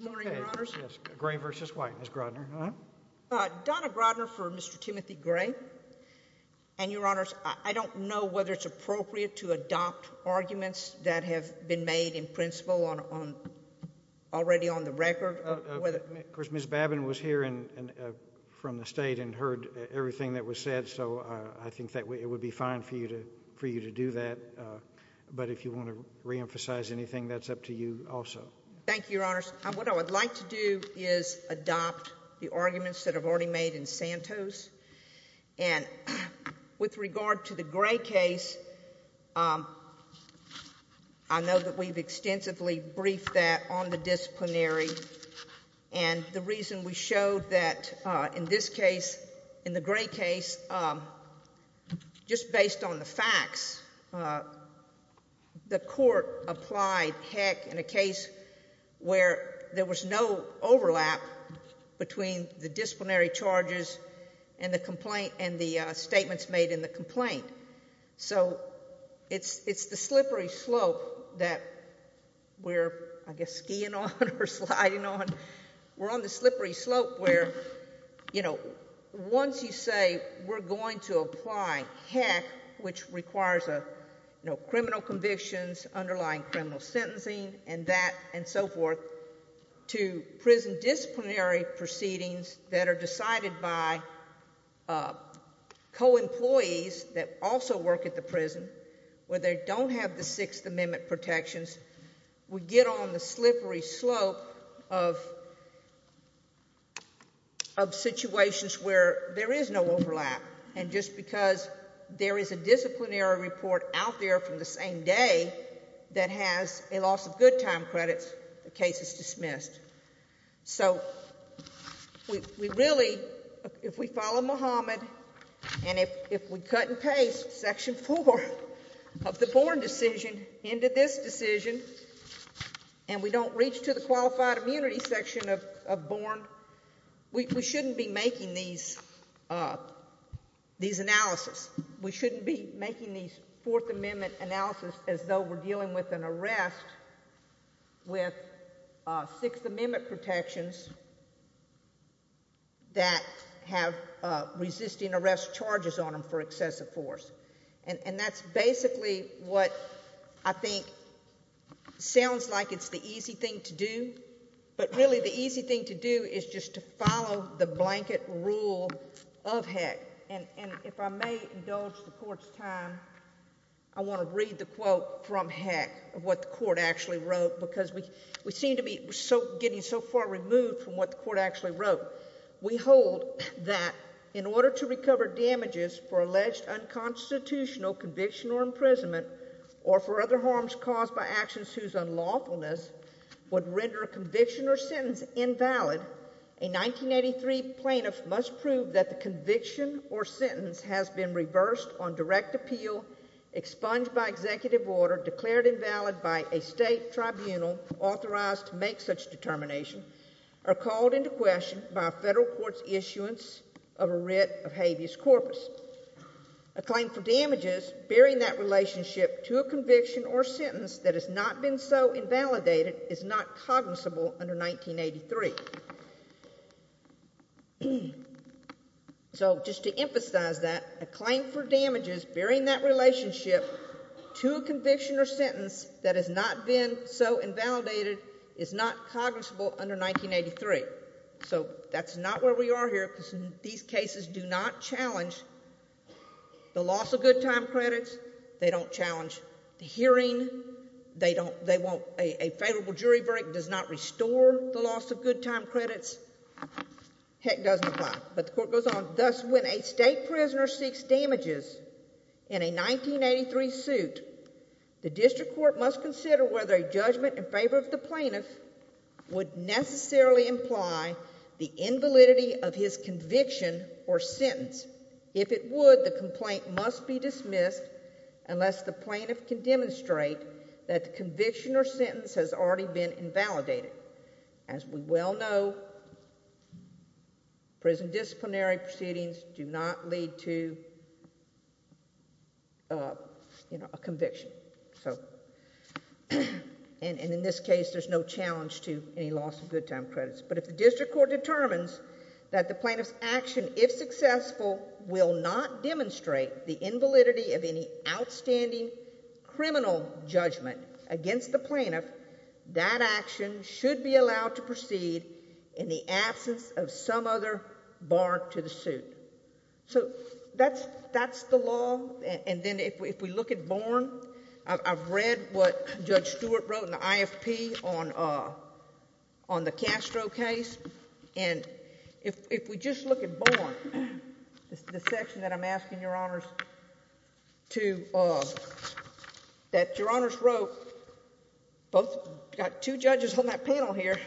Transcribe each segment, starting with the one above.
Good morning, Your Honors. I don't know whether it's appropriate to adopt arguments that have been made in principle on already on the record. Of course, Ms. Babin was here and from the state and heard everything that was said. So I think that it would be fine for you to for you to do that. But if you want to reemphasize anything, that's up to you also. Thank you, Your Honors. What I would like to do is adopt the arguments that have already made in Santos. And with regard to the Gray case, I know that we've extensively briefed that on the disciplinary. And the reason we showed that in this case, in the Gray case, just based on the facts, the court applied HEC in a case where there was no overlap between the disciplinary charges and the statements made in the complaint. So it's the slippery slope that we're, I guess, skiing on or sliding on. We're on the slippery slope where, you know, once you say we're going to apply HEC, which requires criminal convictions, underlying criminal sentencing, and that and so forth, to prison disciplinary proceedings that are decided by co-employees that also work at the prison, where they don't have the Sixth Amendment protections. We get on the slippery slope of situations where there is no overlap. And just because there is a disciplinary report out there from the same day that has a loss of good time credits, the case is dismissed. So we really, if we follow Mohammed, and if we cut and paste Section 4 of the Born decision into this decision, and we don't reach to the Qualified Immunity section of Born, we shouldn't be making these Fourth Amendment analysis as though we're dealing with an arrest with Sixth Amendment protections that have resisting arrest charges on them for excessive force. And that's basically what I think sounds like it's the easy thing to do, but really the blanket rule of HEC. And if I may indulge the Court's time, I want to read the quote from HEC, what the Court actually wrote, because we seem to be getting so far removed from what the Court actually wrote. We hold that in order to recover damages for alleged unconstitutional conviction or imprisonment or for other harms caused by actions whose unlawfulness would render a conviction or sentence invalid, the plaintiff must prove that the conviction or sentence has been reversed on direct appeal, expunged by executive order, declared invalid by a state tribunal authorized to make such determination, or called into question by a federal court's issuance of a writ of habeas corpus. A claim for damages bearing that relationship to a conviction or sentence that has not been so invalidated is not cognizable under 1983. So just to emphasize that, a claim for damages bearing that relationship to a conviction or sentence that has not been so invalidated is not cognizable under 1983. So that's not where we are here, because these cases do not challenge the loss of good time credits. They don't challenge the hearing. They won't... a favorable jury verdict does not restore the loss of good time credits. Heck, it doesn't apply, but the Court goes on, thus, when a state prisoner seeks damages in a 1983 suit, the district court must consider whether a judgment in favor of the plaintiff would necessarily imply the invalidity of his conviction or sentence. If it would, the complaint must be dismissed unless the plaintiff can demonstrate that the conviction or sentence has already been invalidated. As we well know, prison disciplinary proceedings do not lead to a conviction, and in this case, there's no challenge to any loss of good time credits, but if the district court determines that the plaintiff's action, if successful, will not demonstrate the invalidity of any outstanding criminal judgment against the plaintiff, that action should be allowed to proceed in the absence of some other bar to the suit. So that's the law, and then if we look at Borne, I've read what Judge Stewart wrote on the IFP on the Castro case, and if we just look at Borne, the section that I'm asking Your Honors to, that Your Honors wrote, got two judges on that panel here,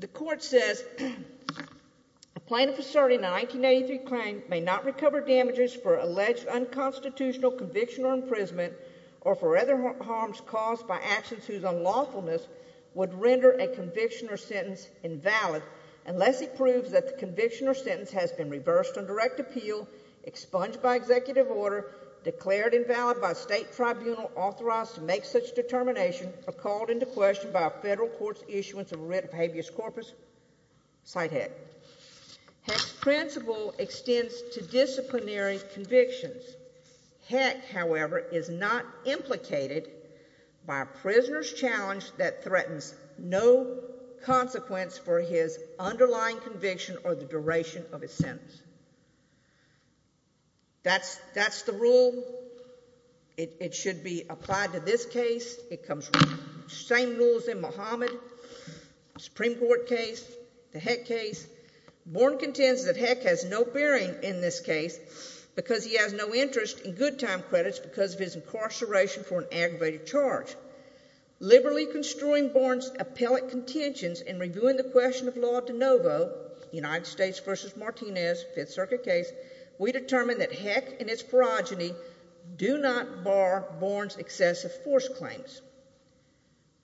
the Court says, a plaintiff asserting a 1983 claim may not recover damages for alleged unconstitutional conviction or imprisonment or for other harms caused by actions whose unlawfulness would render a conviction or sentence invalid unless it proves that the conviction or sentence has been reversed on direct appeal, expunged by executive order, declared invalid by state tribunal authorized to make such determination, or called into question by a federal court's issuance of writ of habeas corpus. Sighthead. Heck's principle extends to disciplinary convictions. Heck, however, is not implicated by a prisoner's challenge that threatens no consequence for his underlying conviction or the duration of his sentence. That's the rule. It should be applied to this case. It comes from the same rules in Muhammad, Supreme Court case, the Heck case. Borne contends that Heck has no bearing in this case because he has no interest in good time credits because of his incarceration for an aggravated charge. Liberally construing Borne's appellate contentions and reviewing the question of law de novo, United States v. Martinez, Fifth Circuit case, we determined that Heck and its pharogeny do not bar Borne's excessive force claims.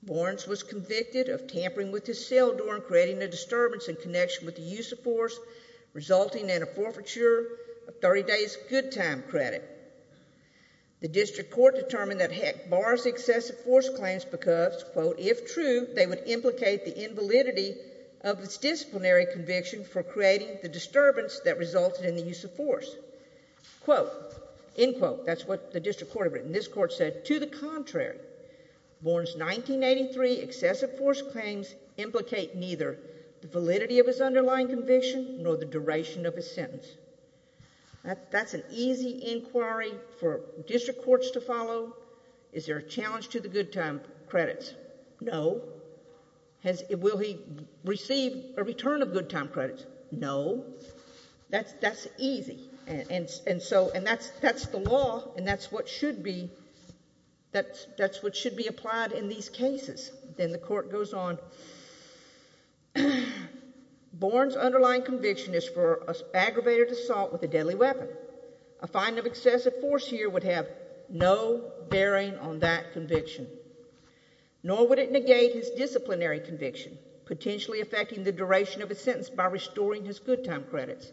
Borne was convicted of tampering with his cell door and creating a disturbance in connection with the use of force, resulting in a forfeiture of 30 days good time credit. The district court determined that Heck bars excessive force claims because, quote, if true, they would implicate the invalidity of its disciplinary conviction for creating the disturbance that resulted in the use of force. Quote, end quote, that's what the district court had written. This court said, to the contrary, Borne's 1983 excessive force claims implicate neither the validity of his underlying conviction nor the duration of his sentence. That's an easy inquiry for district courts to follow. Is there a challenge to the good time credits? No. Will he receive a return of good time credits? No. That's easy, and so, and that's the law, and that's what should be, that's what should be applied in these cases. Then the court goes on, Borne's underlying conviction is for aggravated assault with a deadly weapon. A fine of excessive force here would have no bearing on that conviction, nor would it negate his disciplinary conviction, potentially affecting the duration of his sentence by storing his good time credits.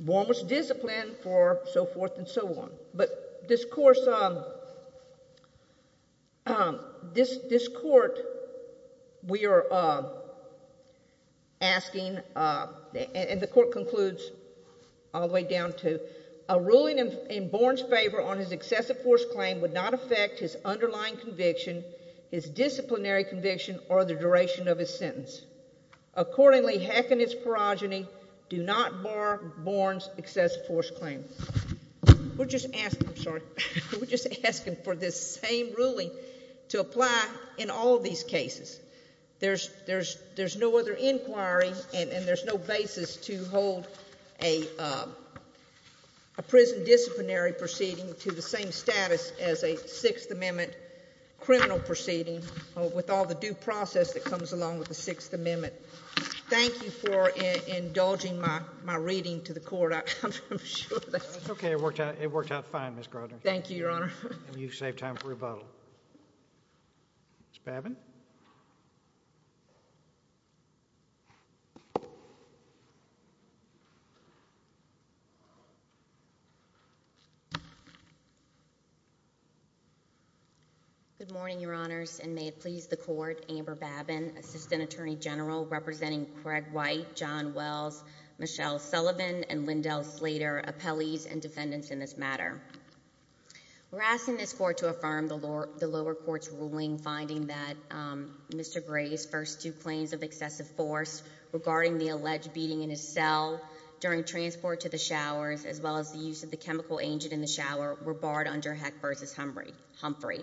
Borne was disciplined for so forth and so on, but this court, we are asking, and the court concludes all the way down to, a ruling in Borne's favor on his excessive force claim would not affect his underlying conviction, his disciplinary conviction, or the duration of his sentence. Accordingly, heck in his ferogeny, do not bar Borne's excessive force claim. We're just asking, sorry, we're just asking for this same ruling to apply in all of these cases. There's, there's, there's no other inquiry, and there's no basis to hold a prison disciplinary proceeding to the same status as a Sixth Amendment criminal proceeding with all the due process that comes along with the Sixth Amendment. Thank you for indulging my, my reading to the court, I, I'm sure that's... That's okay, it worked out, it worked out fine, Ms. Grodner. Thank you, Your Honor. And you've saved time for rebuttal. Ms. Babin? Good morning, Your Honors, and may it please the Court, Amber Babin, for the rebuttal. Ms. Babin, Assistant Attorney General, representing Craig White, John Wells, Michelle Sullivan, and Lyndell Slater, appellees and defendants in this matter. We're asking this Court to affirm the lower, the lower court's ruling, finding that, um, Mr. Gray's first two claims of excessive force regarding the alleged beating in his cell during transport to the showers, as well as the use of the chemical agent in the shower, were barred under Heck v. Humphrey.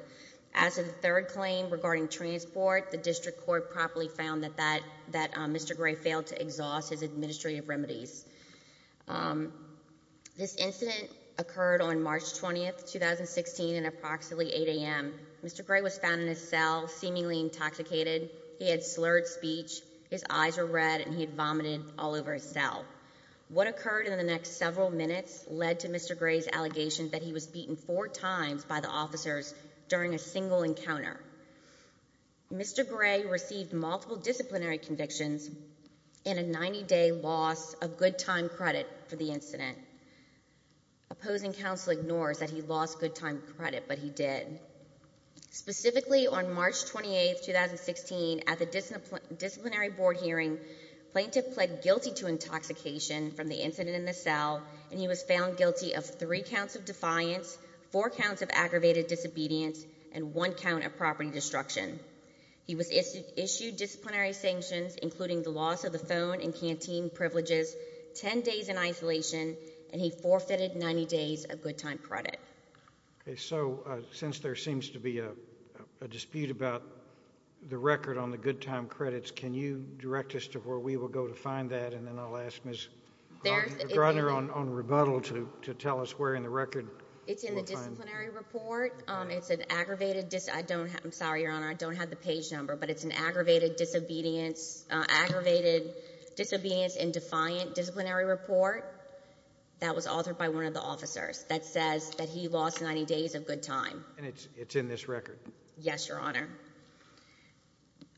As of the third claim regarding transport, the District Court properly found that that, that Mr. Gray failed to exhaust his administrative remedies. Um, this incident occurred on March 20, 2016, at approximately 8 a.m. Mr. Gray was found in his cell, seemingly intoxicated, he had slurred speech, his eyes were red, and he had vomited all over his cell. What occurred in the next several minutes led to Mr. Gray's allegation that he was beaten four times by the officers during a single encounter. Mr. Gray received multiple disciplinary convictions and a 90-day loss of good time credit for the incident. Opposing counsel ignores that he lost good time credit, but he did. Specifically on March 28, 2016, at the disciplinary board hearing, plaintiff pled guilty to intoxication from the incident in the cell, and he was found guilty of three counts of defiance, four counts of aggravated disobedience, and one count of property destruction. He was issued disciplinary sanctions, including the loss of the phone and canteen privileges, ten days in isolation, and he forfeited 90 days of good time credit. Okay, so, uh, since there seems to be a dispute about the record on the good time credits, can you direct us to where we will go to find that, and then I'll ask Ms. Griner on rebuttal to tell us where in the record we'll find it. It's in the disciplinary report. Um, it's an aggravated dis—I don't have—I'm sorry, Your Honor, I don't have the page number, but it's an aggravated disobedience, uh, aggravated disobedience and defiant disciplinary report that was authored by one of the officers that says that he lost 90 days of good time. And it's, it's in this record? Yes, Your Honor.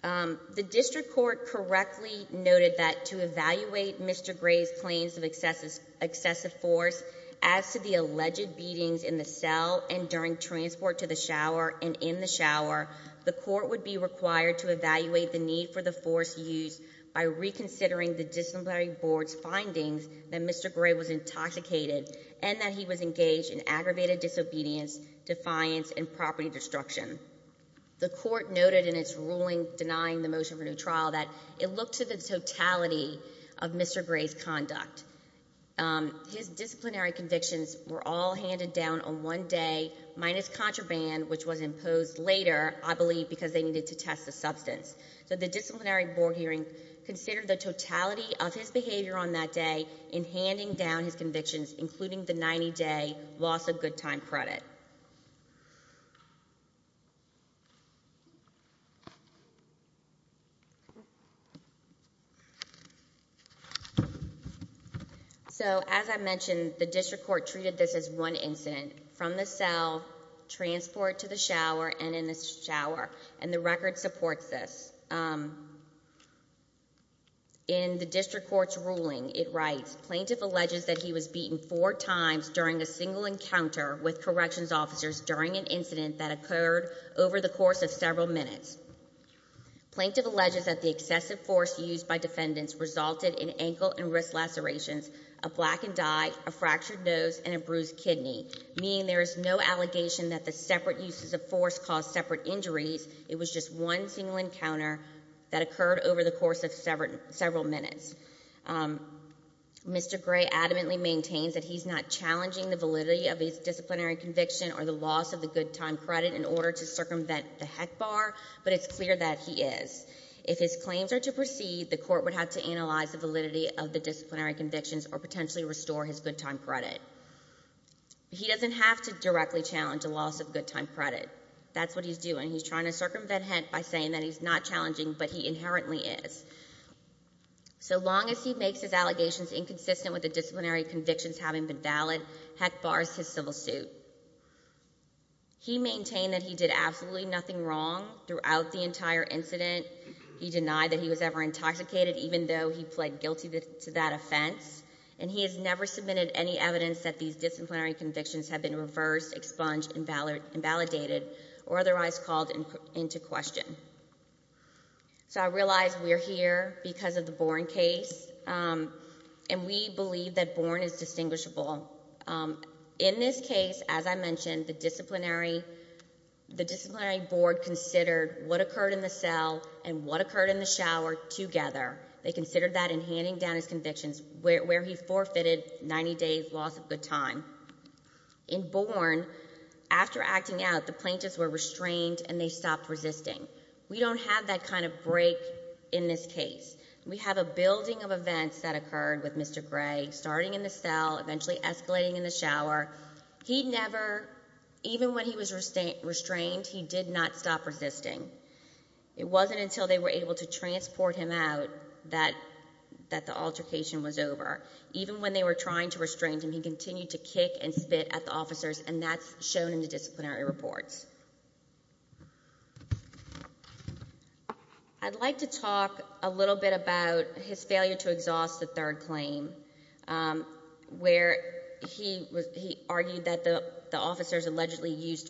Um, the district court correctly noted that to evaluate Mr. Gray's claims of excessive, excessive force as to the alleged beatings in the cell and during transport to the shower and in the shower, the court would be required to evaluate the need for the force used by reconsidering the disciplinary board's findings that Mr. Gray was intoxicated and that he was engaged in aggravated disobedience, defiance, and property destruction. The court noted in its ruling denying the motion for new trial that it looked to the totality of Mr. Gray's conduct. Um, his disciplinary convictions were all handed down on one day minus contraband, which was imposed later, I believe, because they needed to test the substance. So the disciplinary board hearing considered the totality of his behavior on that day in handing down his convictions, including the 90-day loss of good time credit. So, as I mentioned, the district court treated this as one incident, from the cell, transport to the shower, and in the shower. And the record supports this. Um, in the district court's ruling, it writes, plaintiff alleges that he was beaten four times during a single encounter with corrections officers during an incident that occurred over the course of several minutes. Plaintiff alleges that the excessive force used by defendants resulted in ankle and wrist lacerations, a blackened eye, a fractured nose, and a bruised kidney, meaning there is no allegation that the separate uses of force caused separate injuries. It was just one single encounter that occurred over the course of several minutes. Um, Mr. Gray adamantly maintains that he's not challenging the validity of his disciplinary conviction or the loss of the good time credit in order to circumvent the HEC bar, but it's clear that he is. If his claims are to proceed, the court would have to analyze the validity of the disciplinary convictions or potentially restore his good time credit. He doesn't have to directly challenge the loss of good time credit. That's what he's doing. He's trying to circumvent HEC by saying that he's not challenging, but he inherently is. So long as he makes his allegations inconsistent with the disciplinary convictions having been valid, HEC bars his civil suit. He maintained that he did absolutely nothing wrong throughout the entire incident. He denied that he was ever intoxicated, even though he pled guilty to that offense. And he has never submitted any evidence that these disciplinary convictions have been reversed, expunged, invalidated, or otherwise called into question. So I realize we're here because of the Born case, and we believe that Born is distinguishable. In this case, as I mentioned, the disciplinary board considered what occurred in the cell and what occurred in the shower together. They considered that in handing down his convictions where he forfeited 90 days loss of good time. In Born, after acting out, the plaintiffs were restrained and they stopped resisting. We don't have that kind of break in this case. We have a building of events that occurred with Mr. Gregg, starting in the cell, eventually escalating in the shower. He never, even when he was restrained, he did not stop resisting. It wasn't until they were able to transport him out that the altercation was over. Even when they were trying to restrain him, he continued to kick and spit at the officers, and that's shown in the disciplinary reports. I'd like to talk a little bit about his failure to exhaust the third claim, where he argued that the officers allegedly used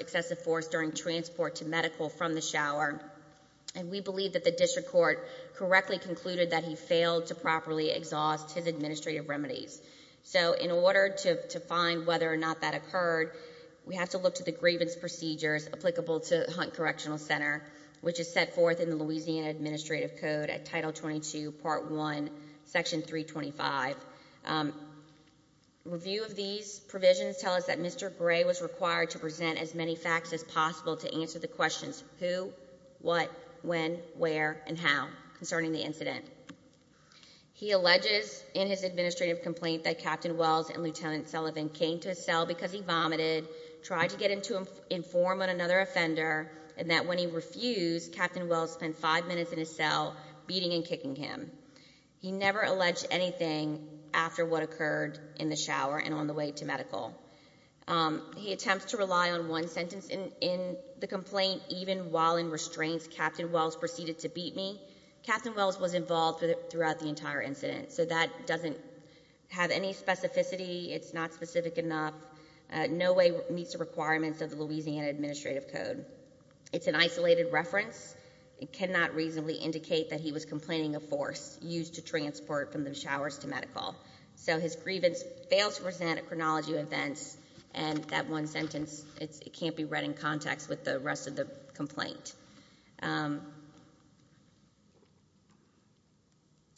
excessive force during transport to medical from the shower, and we believe that the district court correctly concluded that he failed to properly exhaust his administrative remedies. In order to find whether or not that occurred, we have to look to the grievance procedures applicable to Hunt Correctional Center, which is set forth in the Louisiana Administrative Code at Title 22, Part 1, Section 325. Review of these provisions tell us that Mr. Gregg was required to present as many facts as possible to answer the questions, who, what, when, where, and how, concerning the incident. He alleges in his administrative complaint that Captain Wells and Lieutenant Sullivan came to his cell because he vomited, tried to get him to inform another offender, and that when he refused, Captain Wells spent five minutes in his cell beating and kicking him. He never alleged anything after what occurred in the shower and on the way to medical. He attempts to rely on one sentence in the complaint, even while in restraints, Captain Wells proceeded to beat me. Captain Wells was involved throughout the entire incident, so that doesn't have any specificity. It's not specific enough. No way meets the requirements of the Louisiana Administrative Code. It's an isolated reference. It cannot reasonably indicate that he was complaining of force used to transport from the showers to medical. So his grievance fails to present a chronology of events, and that one sentence, it can't be read in context with the rest of the complaint.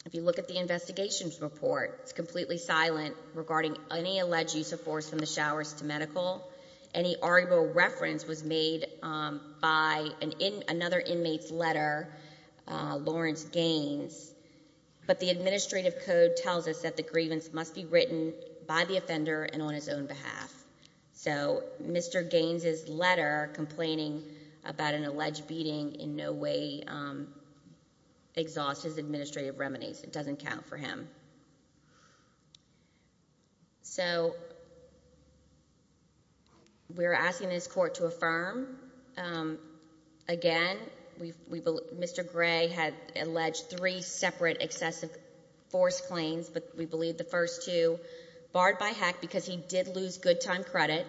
If you look at the investigation's report, it's completely silent regarding any alleged use of force from the showers to medical. Any arguable reference was made by another inmate's letter, Lawrence Gaines. But the Administrative Code tells us that the grievance must be written by the offender and on his own behalf. So Mr. Gaines' letter complaining about an alleged beating in no way exhausts his administrative remedies. It doesn't count for him. So we're asking this court to affirm. Again, Mr. Gray had alleged three separate excessive force claims, but we believe the good time credit,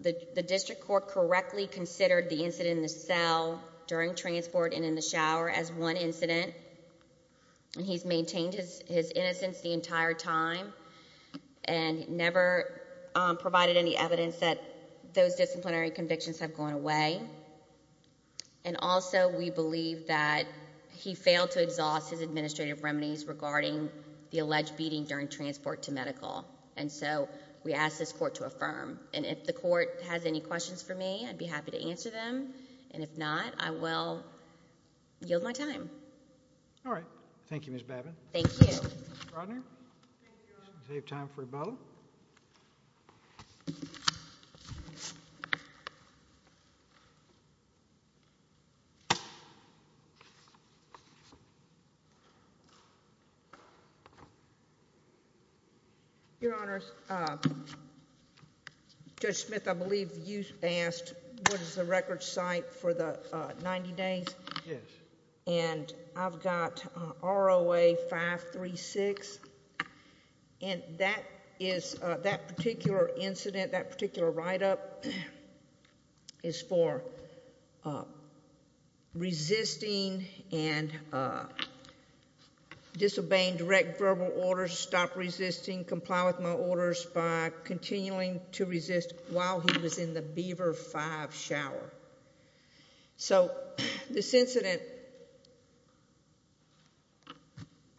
the district court correctly considered the incident in the cell during transport and in the shower as one incident, and he's maintained his innocence the entire time and never provided any evidence that those disciplinary convictions have gone away. And also, we believe that he failed to exhaust his administrative remedies regarding the alleged beating during transport to medical. And so we ask this court to affirm. And if the court has any questions for me, I'd be happy to answer them, and if not, I will yield my time. All right. Thank you, Ms. Babin. Thank you. Mr. Brodner? Thank you, Your Honor. We'll save time for Bo. Your Honors, Judge Smith, I believe you asked, what is the record site for the 90 days? Yes. And I've got ROA 536, and that is, that particular incident, that particular write-up is for resisting and disobeying direct verbal orders, stop resisting, comply with my orders by continuing to resist while he was in the Beaver 5 shower. So, this incident,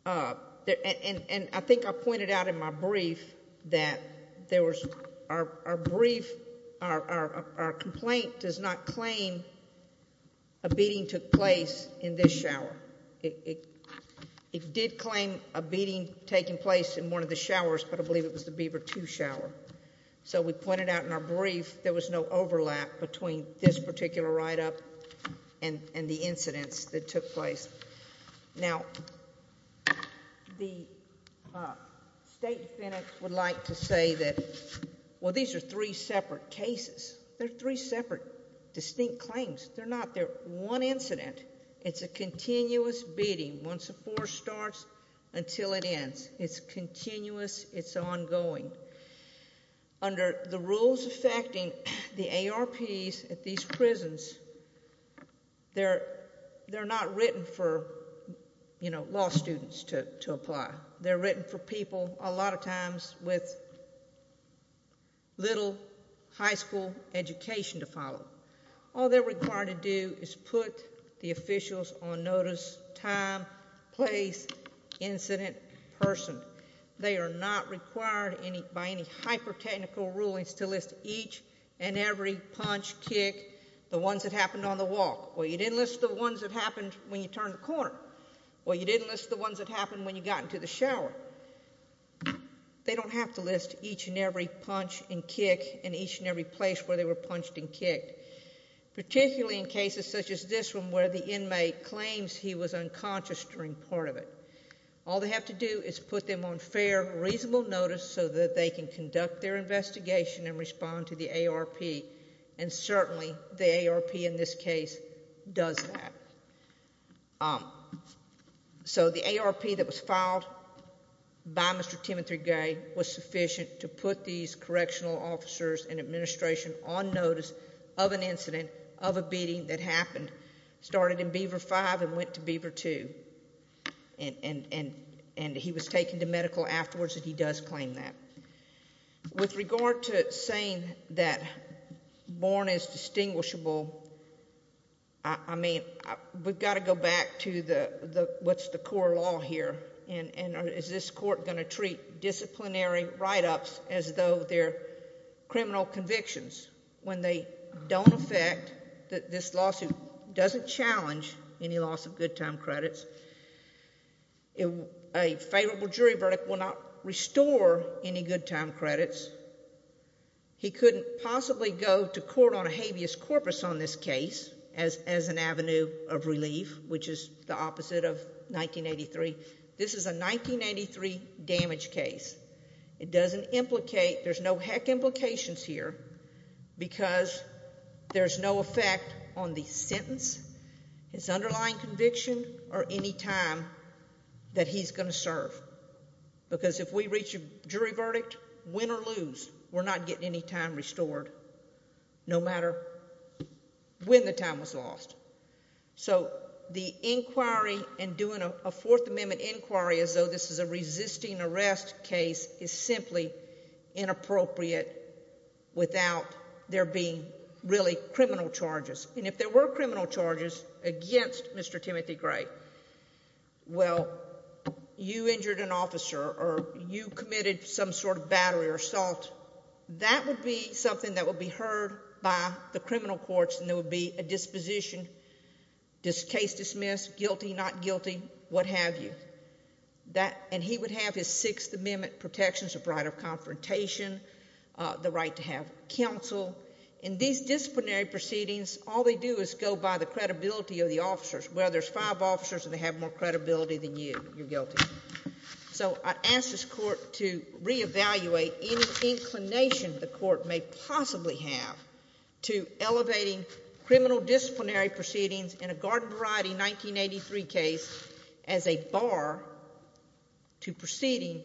and I think I pointed out in my brief that there was, our brief, our complaint does not claim a beating took place in this shower. It did claim a beating taking place in one of the showers, but I believe it was the Beaver 2 shower. So we pointed out in our brief, there was no overlap between this particular write-up and the incidents that took place. Now, the State Defendant would like to say that, well, these are three separate cases. They're three separate, distinct claims. They're not. They're one incident. It's a continuous beating. Once a four starts until it ends. It's continuous. It's ongoing. Under the rules affecting the ARPs at these prisons, they're not written for, you know, law students to apply. They're written for people, a lot of times, with little high school education to follow. All they're required to do is put the officials on notice, time, place, incident, person. They are not required, by any hyper-technical rulings, to list each and every punch, kick, the ones that happened on the walk. Well, you didn't list the ones that happened when you turned the corner, or you didn't list the ones that happened when you got into the shower. They don't have to list each and every punch and kick and each and every place where they were punched and kicked, particularly in cases such as this one where the inmate claims he was unconscious during part of it. All they have to do is put them on fair, reasonable notice so that they can conduct their investigation and respond to the ARP. And certainly, the ARP in this case does that. So the ARP that was filed by Mr. Timothy Gay was sufficient to put these correctional officers and administration on notice of an incident, of a beating that happened, started in Beaver 2, and he was taken to medical afterwards, and he does claim that. With regard to saying that Bourne is distinguishable, I mean, we've got to go back to what's the core law here, and is this court going to treat disciplinary write-ups as though they're criminal convictions when they don't affect, this lawsuit doesn't challenge any loss of good time credits. A favorable jury verdict will not restore any good time credits. He couldn't possibly go to court on a habeas corpus on this case as an avenue of relief, which is the opposite of 1983. This is a 1983 damage case. It doesn't implicate, there's no heck implications here because there's no effect on the sentence, his underlying conviction, or any time that he's going to serve. Because if we reach a jury verdict, win or lose, we're not getting any time restored, no matter when the time was lost. So the inquiry and doing a Fourth Amendment inquiry as though this is a resisting arrest case is simply inappropriate without there being really criminal charges. And if there were criminal charges against Mr. Timothy Gray, well, you injured an officer or you committed some sort of battery or assault, that would be something that would be heard by the criminal courts and there would be a disposition, case dismissed, guilty, not guilty, what have you. And he would have his Sixth Amendment protections of right of confrontation, the right to have counsel. In these disciplinary proceedings, all they do is go by the credibility of the officers. Well, there's five officers and they have more credibility than you, you're guilty. So I ask this court to reevaluate any inclination the court may possibly have to elevating criminal disciplinary proceedings in a Garden Variety 1983 case as a bar to proceeding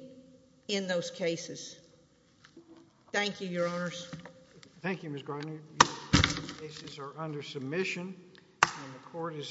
in those cases. Thank you, Your Honors. Thank you, Ms. Gardner. These cases are under submission and the court is adjourned.